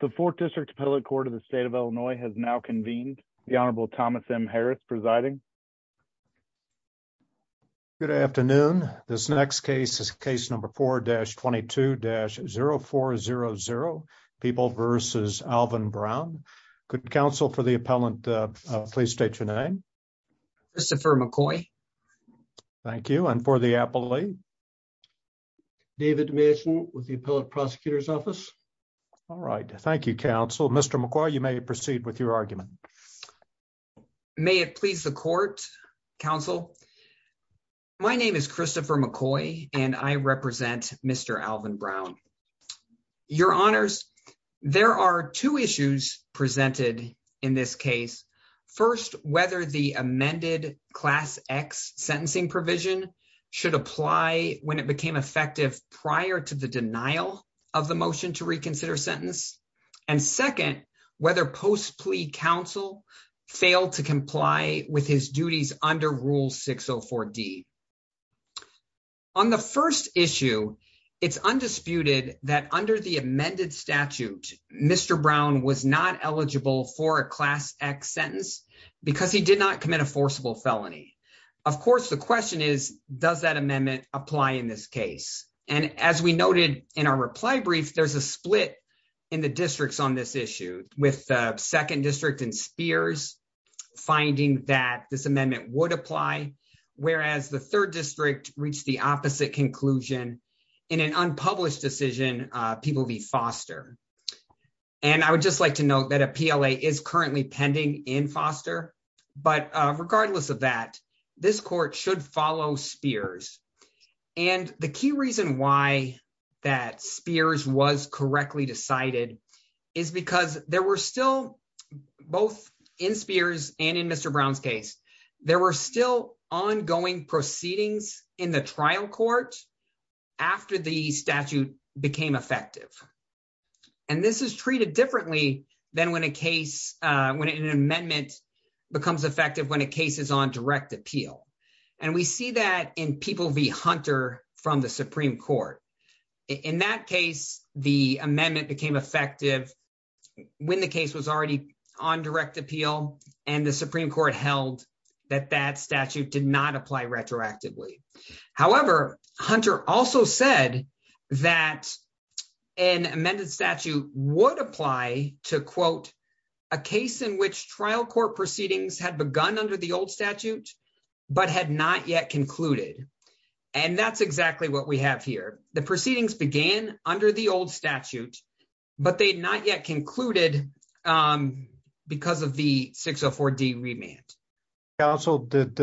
The Fourth District Appellate Court of the State of Illinois has now convened. The Honorable Thomas M. Harris presiding. Good afternoon. This next case is case number 4-22-0400, People v. Alvin Brown. Could counsel for the appellant please state your name? Christopher McCoy. Thank you. And for the appellee? David Mason with the appellate prosecutor's office. All right. Thank you, counsel. Mr. McCoy, you may proceed with your argument. May it please the court, counsel? My name is Christopher McCoy and I represent Mr. Alvin Brown. Your Honors, there are two issues presented in this case. First, whether the amended Class X sentencing provision should apply when it became effective prior to the denial of the motion to reconsider sentence. And second, whether post plea counsel failed to comply with his duties under Rule 604D. On the first issue, it's undisputed that under the amended statute, Mr. Brown was not eligible for a Class X sentence because he did not commit a forcible felony. Of course, the question is, does that amendment apply in this case? And as we noted in our reply brief, there's a split in the districts on this issue with the second district in Spears finding that this amendment would apply, whereas the third district reached the opposite conclusion in an unpublished decision, People v. Foster. And I would just like to note that a PLA is currently pending in Foster. But regardless of that, this court should follow Spears. And the key reason why that Spears was correctly decided is because there were still both in Spears and in Mr. Brown's case, there were still ongoing proceedings in the trial court after the statute became effective. And this is treated differently than when a case, when an amendment becomes effective when a case is on direct appeal. And we see that in People v. Hunter from the Supreme Court. In that case, the amendment became effective when the case was already on direct appeal and the Supreme Court held that that statute did not apply retroactively. However, Hunter also said that an amended statute would apply to quote a case in which trial court proceedings had begun under the old statute, but had not yet concluded. And that's exactly what we have here. The proceedings began under the old statute, but they not yet concluded because of the 604 D remand. Counsel, did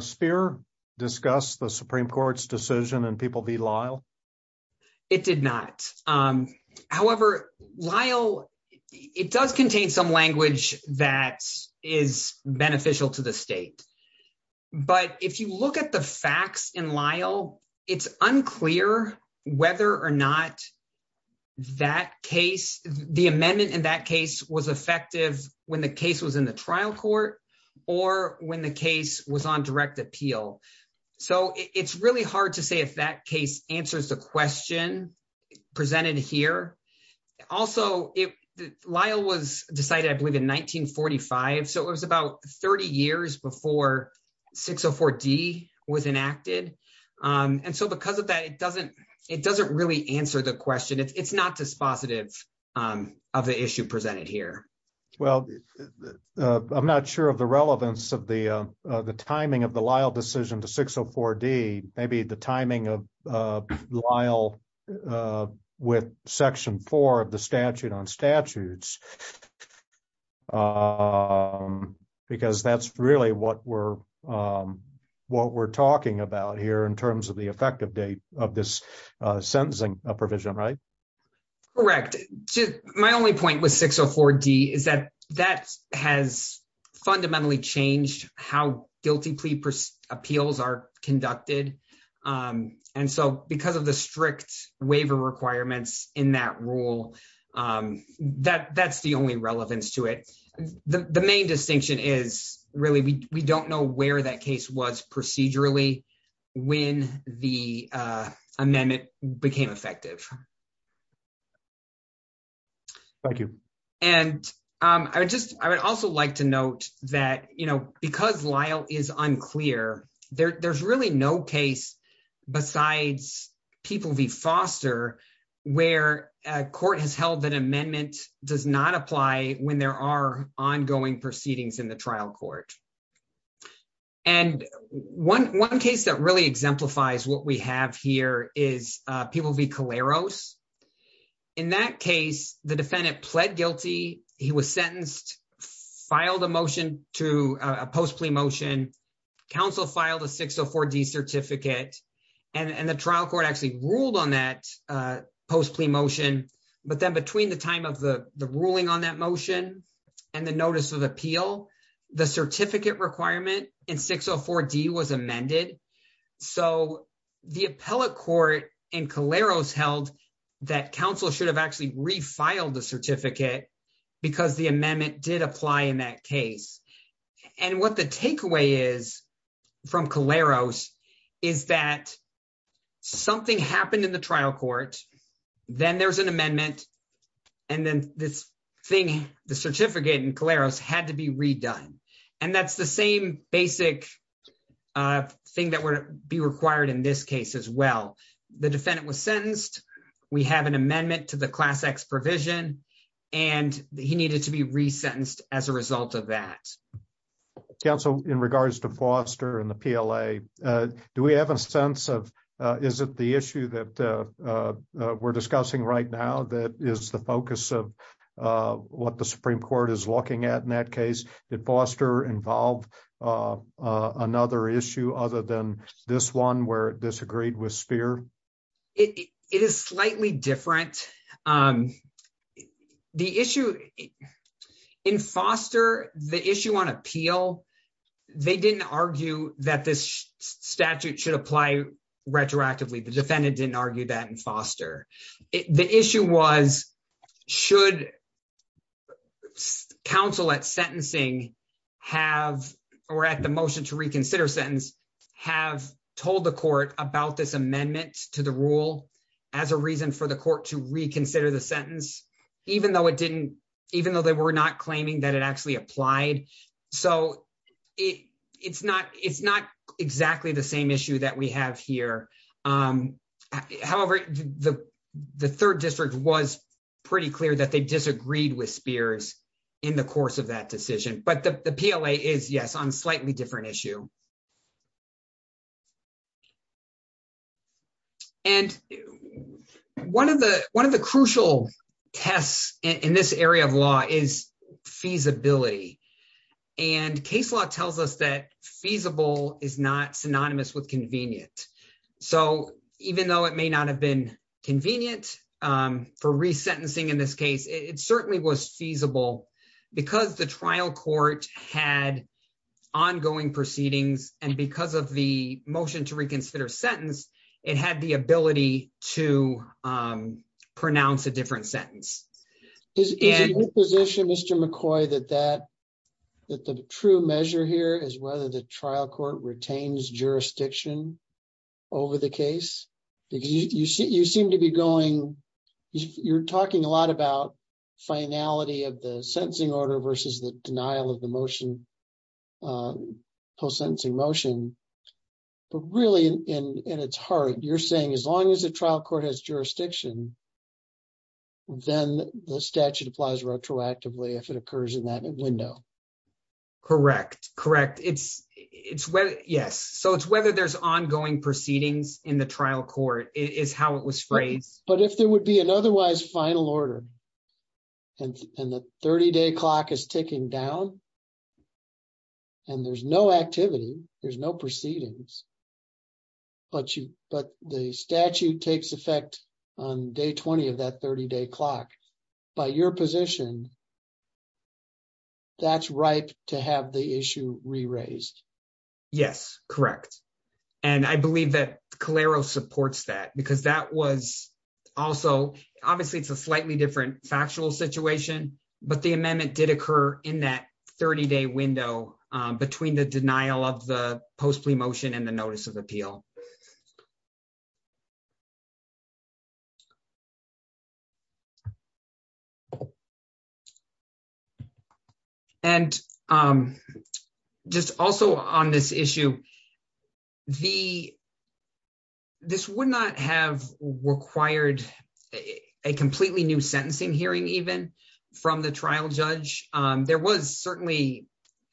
Spear discuss the Supreme Court's decision in People v. Lyle? Or when the case was on direct appeal. So it's really hard to say if that case answers the question presented here. Also, Lyle was decided, I believe, in 1945. So it was about 30 years before 604 D was enacted. And so because of that, it doesn't really answer the question. It's not dispositive of the issue presented here. Well, I'm not sure of the relevance of the timing of the Lyle decision to 604 D. Maybe the timing of Lyle with section four of the statute on statutes. Because that's really what we're talking about here in terms of the effective date of this sentencing provision, right? Correct. My only point with 604 D is that that has fundamentally changed how guilty plea appeals are conducted. And so because of the strict waiver requirements in that rule, that's the only relevance to it. The main distinction is really we don't know where that case was procedurally when the amendment became effective. Thank you. And I would also like to note that because Lyle is unclear, there's really no case besides People v. Foster where a court has held that amendment does not apply when there are ongoing proceedings in the trial court. And one case that really exemplifies what we have here is People v. Caleros. In that case, the defendant pled guilty. He was sentenced, filed a motion to a post plea motion. Council filed a 604 D certificate and the trial court actually ruled on that post plea motion. But then between the time of the ruling on that motion and the notice of appeal, the certificate requirement in 604 D was amended. So the appellate court in Caleros held that council should have actually refiled the certificate because the amendment did apply in that case. And what the takeaway is from Caleros is that something happened in the trial court, then there's an amendment, and then this thing, the certificate in Caleros, had to be redone. And that's the same basic thing that would be required in this case as well. The defendant was sentenced, we have an amendment to the Class X provision, and he needed to be resentenced as a result of that. Counsel, in regards to Foster and the PLA, do we have a sense of, is it the issue that we're discussing right now that is the focus of what the Supreme Court is looking at in that case? Did Foster involve another issue other than this one where it disagreed with Speer? It is slightly different. The issue in Foster, the issue on appeal, they didn't argue that this statute should apply retroactively. The defendant didn't argue that in Foster. The issue was, should counsel at sentencing have, or at the motion to reconsider sentence, have told the court about this amendment to the rule as a reason for the court to reconsider the sentence, even though it didn't, even though they were not claiming that it actually applied? So, it's not exactly the same issue that we have here. However, the third district was pretty clear that they disagreed with Speer in the course of that decision. But the PLA is, yes, on a slightly different issue. And one of the crucial tests in this area of law is feasibility. And case law tells us that feasible is not synonymous with convenient. So, even though it may not have been convenient for resentencing in this case, it certainly was feasible because the trial court had ongoing proceedings. And because of the motion to reconsider sentence, it had the ability to pronounce a different sentence. Is it your position, Mr. McCoy, that the true measure here is whether the trial court retains jurisdiction over the case? Because you seem to be going, you're talking a lot about finality of the sentencing order versus the denial of the motion, post-sentencing motion. But really, in its heart, you're saying as long as the trial court has jurisdiction, then the statute applies retroactively if it occurs in that window. Correct. Correct. Yes. So, it's whether there's ongoing proceedings in the trial court is how it was phrased. But if there would be an otherwise final order, and the 30-day clock is ticking down, and there's no activity, there's no proceedings, but the statute takes effect on day 20 of that 30-day clock, by your position, that's ripe to have the issue re-raised. Yes, correct. And I believe that Calero supports that because that was also, obviously, it's a slightly different factual situation, but the amendment did occur in that 30-day window between the denial of the post-plea motion and the notice of appeal. And just also on this issue, this would not have required a completely new sentencing hearing even from the trial judge. There was certainly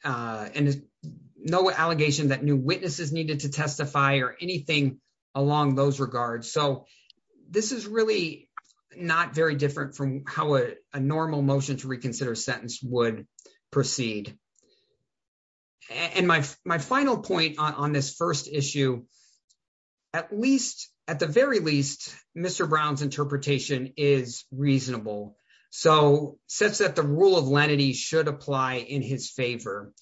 no allegation that new witnesses needed to testify or anything along those regards. So, this is really not very different from how a normal motion to reconsider sentence would proceed. And my final point on this first issue, at least, at the very least, Mr. Brown's interpretation is reasonable. So, such that the rule of lenity should apply in his favor.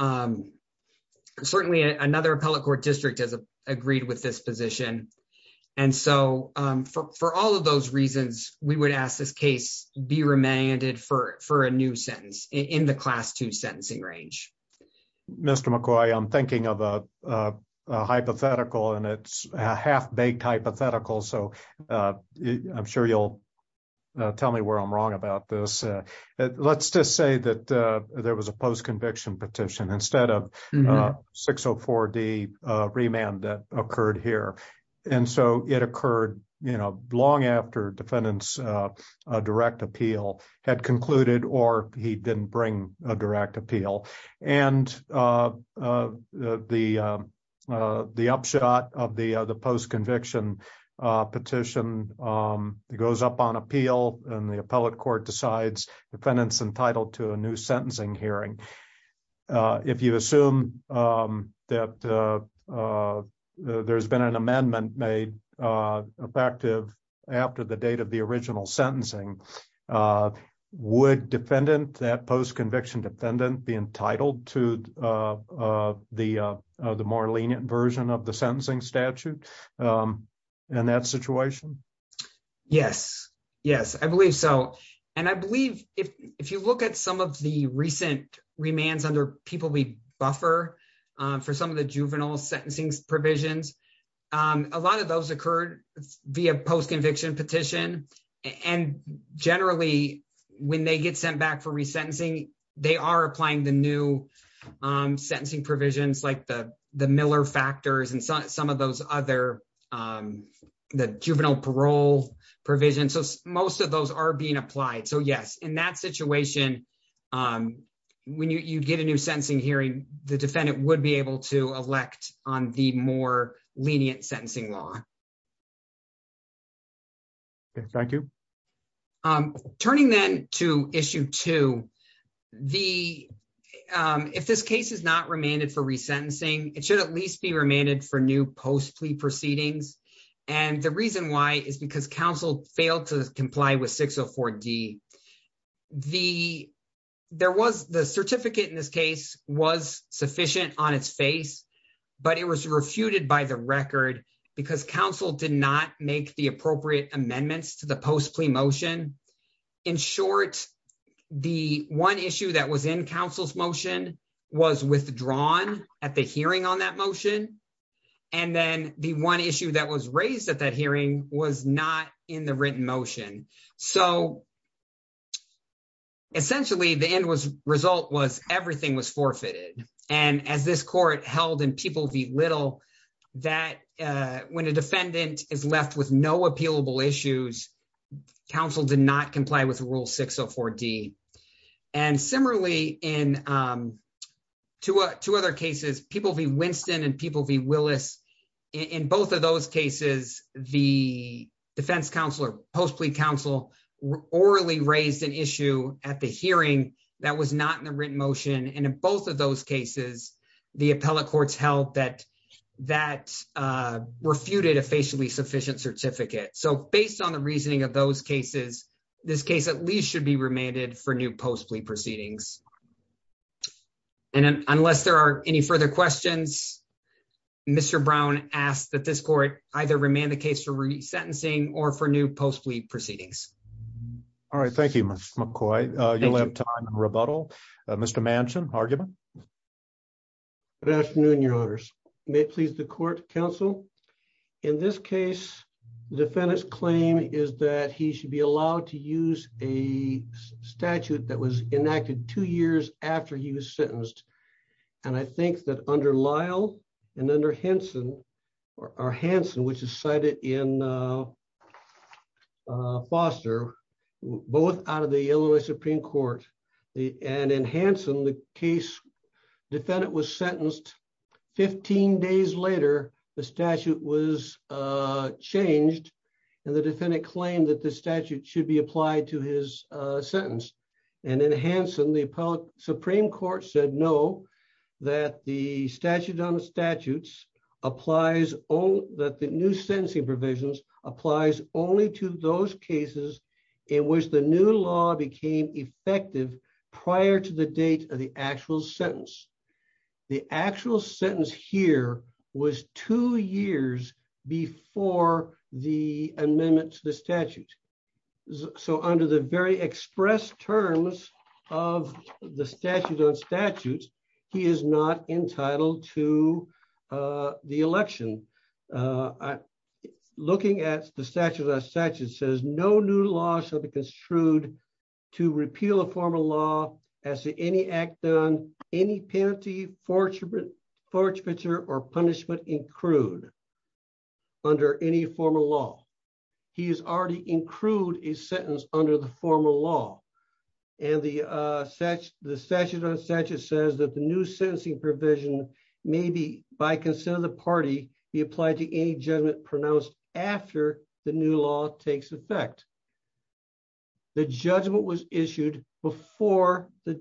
Certainly, another appellate court district has agreed with this position. And so, for all of those reasons, we would ask this case be remanded for a new sentence in the Class 2 sentencing range. Mr. McCoy, I'm thinking of a hypothetical, and it's a half-baked hypothetical, so I'm sure you'll tell me where I'm wrong about this. Let's just say that there was a post-conviction petition instead of 604D remand that occurred here. And so, it occurred long after defendant's direct appeal had concluded or he didn't bring a direct appeal. And the upshot of the post-conviction petition goes up on appeal, and the appellate court decides defendant's entitled to a new sentencing hearing. If you assume that there's been an amendment made effective after the date of the original sentencing, would defendant, that post-conviction defendant, be entitled to the more lenient version of the sentencing statute in that situation? Yes. Yes, I believe so. And I believe if you look at some of the recent remands under people we buffer for some of the juvenile sentencing provisions, a lot of those occurred via post-conviction petition. And generally, when they get sent back for resentencing, they are applying the new sentencing provisions like the Miller factors and some of those other, the juvenile parole provisions. So, most of those are being applied. So, yes, in that situation, when you get a new sentencing hearing, the defendant would be able to elect on the more lenient sentencing law. Thank you. Turning then to issue two, if this case is not remanded for resentencing, it should at least be remanded for new post-plea proceedings. And the reason why is because counsel failed to comply with 604D. The, there was the certificate in this case was sufficient on its face, but it was refuted by the record because counsel did not make the appropriate amendments to the post-plea motion. In short, the one issue that was in counsel's motion was withdrawn at the hearing on that motion. And then the one issue that was raised at that hearing was not in the written motion. So, essentially, the end result was everything was forfeited. And as this court held in People v. Little that when a defendant is left with no appealable issues, counsel did not comply with Rule 604D. And similarly, in two other cases, People v. Winston and People v. Willis, in both of those cases, the defense counsel or post-plea counsel orally raised an issue at the hearing that was not in the written motion. And in both of those cases, the appellate courts held that that refuted a facially sufficient certificate. So, based on the reasoning of those cases, this case at least should be remanded for new post-plea proceedings. And unless there are any further questions, Mr. Brown asked that this court either remand the case for resentencing or for new post-plea proceedings. All right, thank you, Mr. McCoy. You'll have time for rebuttal. Mr. Manchin, argument? Good afternoon, Your Honors. May it please the court, counsel? In this case, the defendant's claim is that he should be allowed to use a statute that was enacted two years after he was sentenced. And I think that under Lyle and under Hansen, or Hansen, which is cited in Foster, both out of the Illinois Supreme Court, and in Hansen, the case defendant was sentenced 15 days later, the statute was changed, and the defendant claimed that the statute should be applied to his sentence. And in Hansen, the Supreme Court said no, that the statute on the statutes applies, that the new sentencing provisions applies only to those cases in which the new law became effective prior to the date of the actual sentence. The actual sentence here was two years before the amendment to the statute. So under the very express terms of the statute on statutes, he is not entitled to the election. Looking at the statute on statutes, it says no new law shall be construed to repeal a formal law as to any act done, any penalty, fortunate, or punishment in crude under any formal law. He is already in crude a sentence under the formal law. And the statute on statutes says that the new sentencing provision may be, by consent of the party, be applied to any judgment pronounced after the new law takes effect. The judgment was issued before the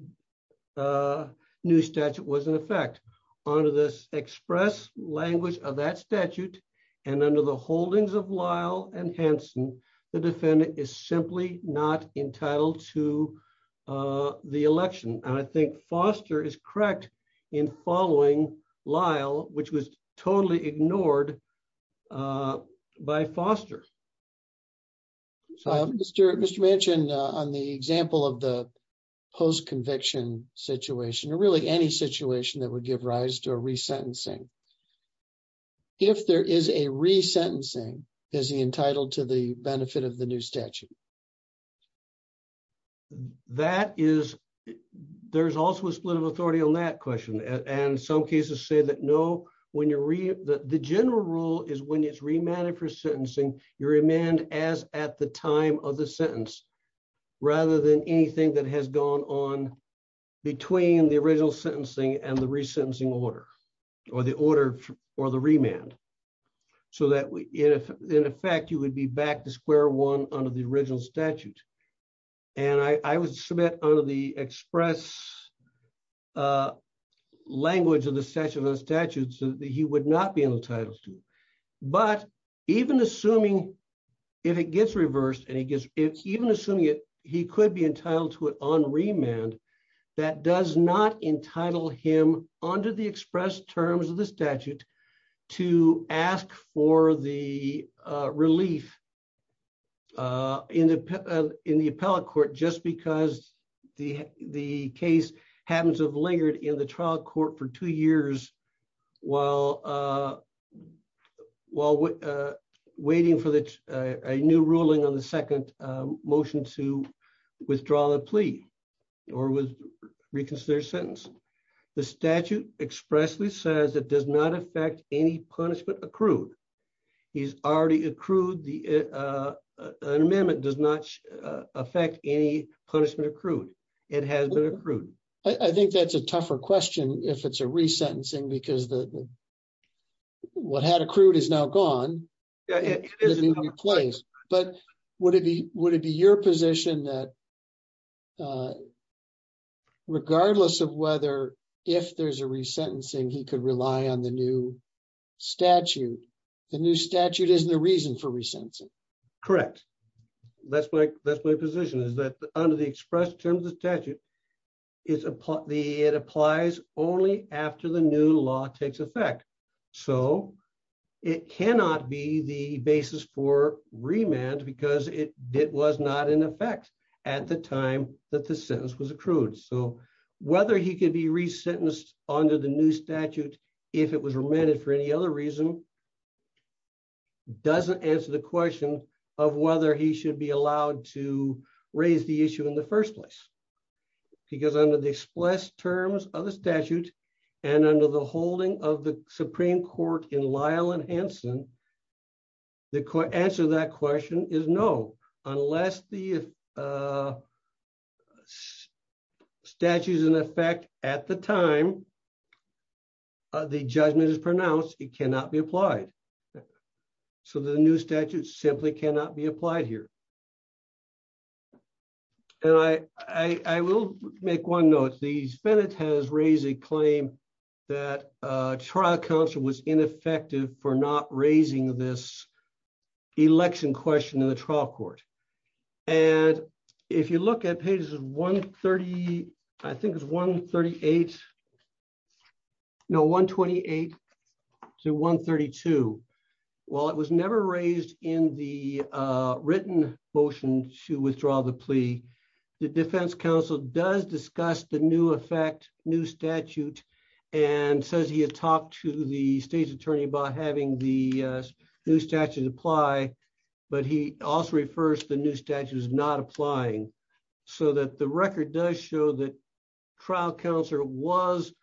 new statute was in effect. Under this express language of that statute, and under the holdings of Lyle and Hansen, the defendant is simply not entitled to the election. And I think Foster is correct in following Lyle, which was totally ignored by Foster. Mr. Manchin, on the example of the post-conviction situation, or really any situation that would give rise to a resentencing, if there is a resentencing, is he entitled to the benefit of the new statute? That is, there's also a split of authority on that question, and some cases say that no, when you're, the general rule is when it's remanded for sentencing, you're remanded as at the time of the sentence, rather than anything that has gone on between the original sentencing and the resentencing order, or the order, or the remand. So that, in effect, you would be back to square one under the original statute. And I would submit under the express language of the statute that he would not be entitled to. But even assuming, if it gets reversed, and he gets, even assuming it, he could be entitled to it on remand, that does not entitle him under the express terms of the statute to ask for the relief in the appellate court, just because the case happens to have lingered in the trial court for two years, while, while waiting for the new ruling on the second motion to withdraw the plea, or was reconsidered sentence. The statute expressly says it does not affect any punishment accrued. He's already accrued the amendment does not affect any punishment accrued. It has been accrued. I think that's a tougher question if it's a resentencing because the what had accrued is now gone. But would it be, would it be your position that regardless of whether if there's a resentencing he could rely on the new statute. The new statute is the reason for resentencing. Correct. That's my, that's my position is that under the express terms of statute is the it applies only after the new law takes effect. So, it cannot be the basis for remand because it did was not in effect at the time that the sentence was accrued so whether he could be resentenced under the new statute. If it was remanded for any other reason, doesn't answer the question of whether he should be allowed to raise the issue in the first place. Because under the express terms of the statute, and under the holding of the Supreme Court in Lyle and Hanson. The court answer that question is no, unless the statues in effect at the time. The judgment is pronounced, it cannot be applied. So the new statute simply cannot be applied here. And I, I will make one note these Bennett has raised a claim that trial counsel was ineffective for not raising this election question in the trial court. And if you look at pages 130. I think it's 138. No 128 to 132. Well, it was never raised in the written motion to withdraw the plea. The Defense Council does discuss the new effect new statute, and says he had talked to the state's attorney about having the new statute apply, but he also refers to the new statutes so that the record does show that trial counselor was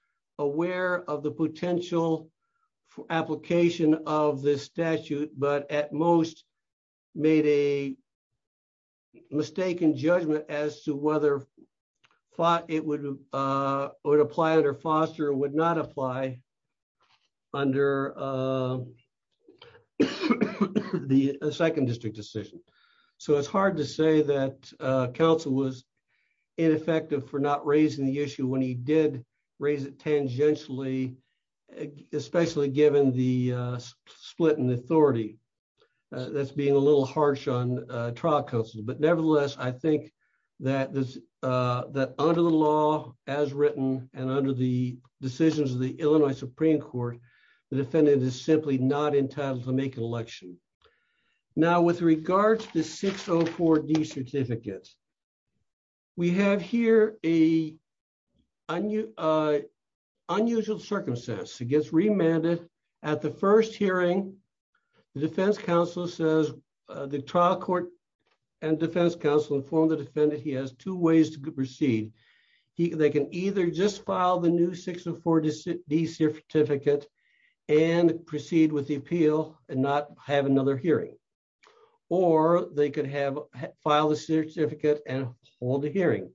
aware of the potential application of this statute, but at most, made a mistake in judgment as to whether it would apply it or foster would not apply under the second district decision. So it's hard to say that council was ineffective for not raising the issue when he did raise it tangentially, especially given the split in authority. That's being a little harsh on trial counsel, but nevertheless, I think that this that under the law, as written, and under the decisions of the Illinois Supreme Court, the defendant is simply not entitled to make an election. Now with regards to 604 D certificates. We have here, a unusual circumstance, it gets remanded at the first hearing. The defense counsel says the trial court and defense counsel inform the defendant he has two ways to proceed. They can either just file the new 604 D certificate and proceed with the appeal and not have another hearing. Or they could have file a certificate and hold a hearing.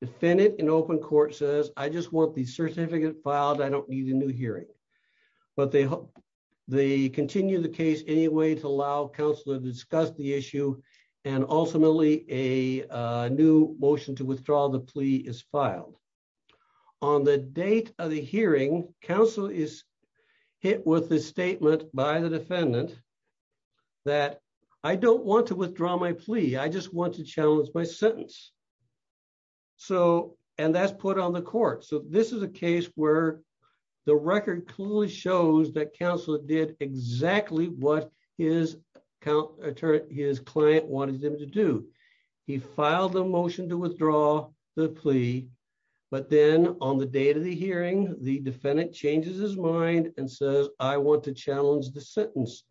Defendant in open court says I just want the certificate filed I don't need a new hearing, but they hope they continue the case anyway to allow counselor discuss the issue. And ultimately, a new motion to withdraw the plea is filed. On the date of the hearing, counsel is hit with a statement by the defendant that I don't want to withdraw my plea I just want to challenge my sentence. So, and that's put on the court so this is a case where the record clearly shows that counselor did exactly what his account, his client wanted him to do. He filed a motion to withdraw the plea, but then on the date of the hearing, the defendant changes his mind and says, I want to challenge the sentence.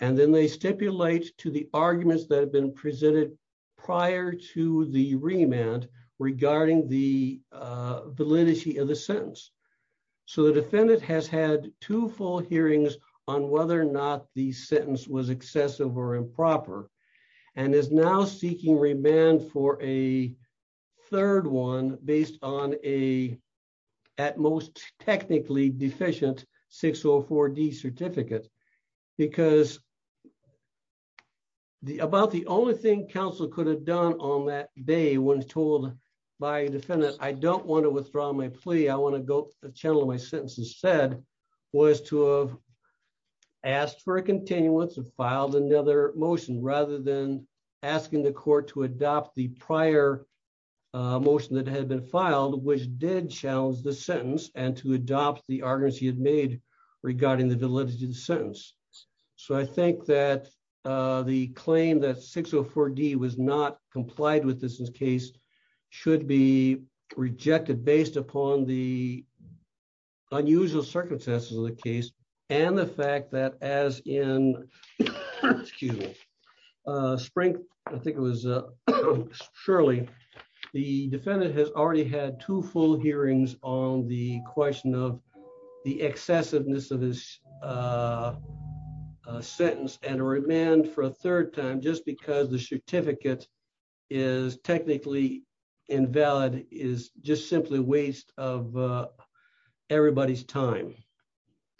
And then they stipulate to the arguments that have been presented prior to the remand regarding the validity of the sentence. So the defendant has had two full hearings on whether or not the sentence was excessive or improper, and is now seeking remand for a third one, based on a at most technically deficient 604 D certificate, because the about the only thing Council could have done on that day when told by defendant, I don't want to withdraw my plea I want to go to the channel my sentence and said was to have asked for a continued once and filed another motion rather than asking the I think that the claim that 604 D was not complied with this case should be rejected based upon the unusual circumstances of the case, and the fact that as in spring. I think it was. Surely, the defendant has already had two full hearings on the question of the excessiveness of this sentence and a remand for a third time just because the certificate is technically invalid is just simply waste of everybody's time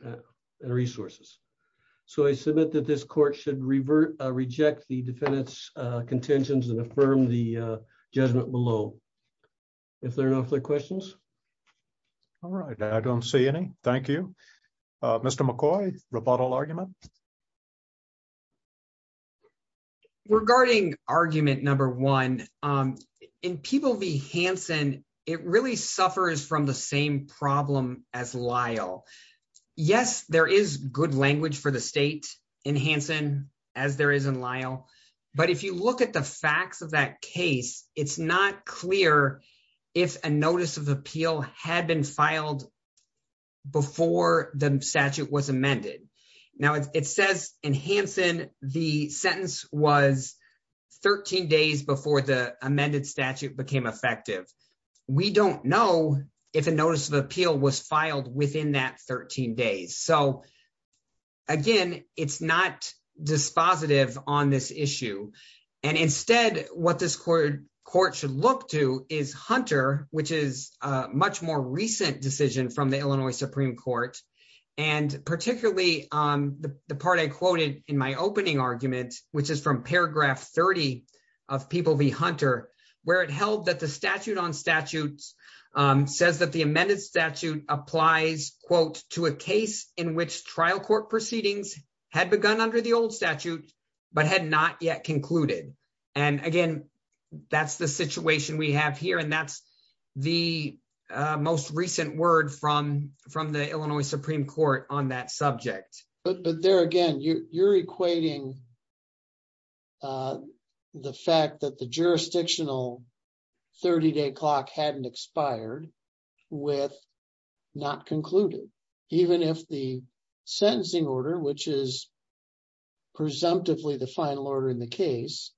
and resources. So I submit that this court should revert reject the defendant's contentions and affirm the judgment below. If there are no other questions. All right, I don't see any. Thank you. Mr McCoy rebuttal argument. Regarding argument number one in people be Hanson, it really suffers from the same problem as Lyle. Yes, there is good language for the state in Hanson, as there is in Lyle. But if you look at the facts of that case, it's not clear if a notice of appeal had been filed before the statute was amended. Now it says in Hanson, the sentence was 13 days before the amended statute became effective. We don't know if a notice of appeal was filed within that 13 days so again, it's not dispositive on this issue. And instead, what this court court should look to is hunter, which is much more recent decision from the Illinois Supreme Court, and particularly on the part I quoted in my opening argument, which is from paragraph 30 of people be hunter, where it held that the And again, that's the situation we have here and that's the most recent word from from the Illinois Supreme Court on that subject, but but there again you're equating the fact that the jurisdictional 30 day clock hadn't expired with not concluded. Even if the sentencing order which is presumptively the final order in the case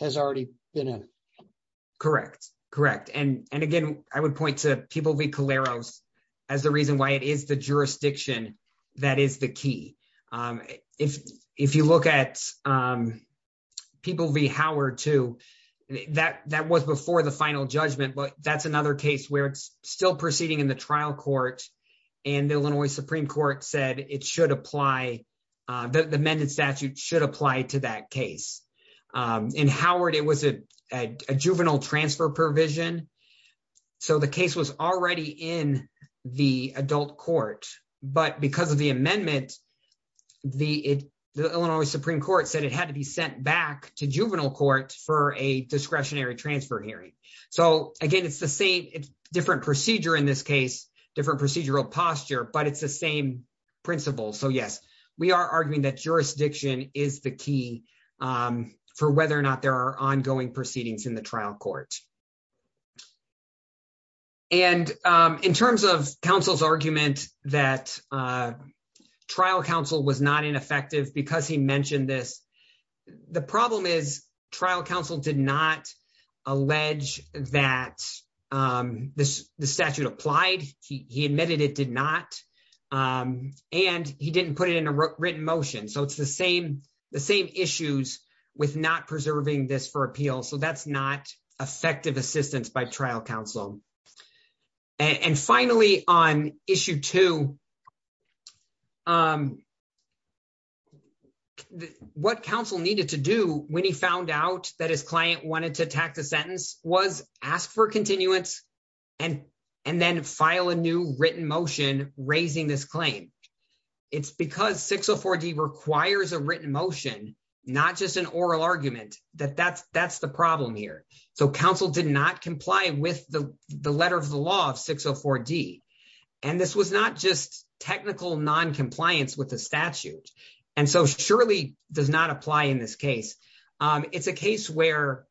has already been in. Correct. Correct. And, and again, I would point to people be Caleros, as the reason why it is the jurisdiction. That is the key. If, if you look at people be Howard to that that was before the final judgment but that's another case where it's still proceeding in the trial court. And Illinois Supreme Court said it should apply the amended statute should apply to that case in Howard it was a juvenile transfer provision. So the case was already in the adult court, but because of the amendment. The Illinois Supreme Court said it had to be sent back to juvenile court for a discretionary transfer hearing. So, again, it's the same different procedure in this case, different procedural posture but it's the same principle so yes, we are arguing that jurisdiction is the key for whether or not there are ongoing proceedings in the trial court. And in terms of counsel's argument that trial counsel was not ineffective because he mentioned this. The problem is trial counsel did not allege that this statute applied, he admitted it did not. And he didn't put it in a written motion so it's the same, the same issues with not preserving this for appeal so that's not effective assistance by trial counsel. And finally, on issue to what counsel needed to do when he found out that his client wanted to attack the sentence was asked for continuance and and then file a new written motion, raising this claim. It's because 604 D requires a written motion, not just an oral argument that that's that's the problem here. So counsel did not comply with the, the letter of the law of 604 D. And this was not just technical non compliance with the statute. And so surely does not apply in this case. It's a case where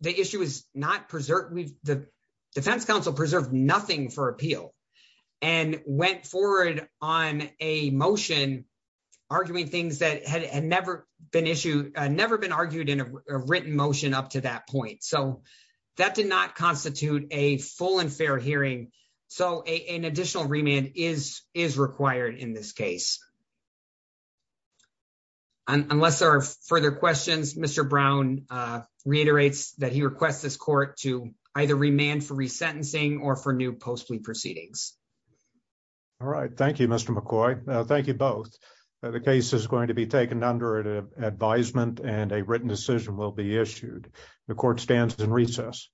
the issue is not preserved with the defense counsel preserve nothing for appeal, and went forward on a motion, arguing things that had never been issued, never been argued in a written motion up to that point so that did not constitute a full and fair hearing. So, an additional remand is is required in this case. Unless there are further questions Mr Brown reiterates that he requests this court to either remand for resentencing or for new post plea proceedings. All right. Thank you, Mr McCoy. Thank you both. The case is going to be taken under advisement and a written decision will be issued. The court stands in recess.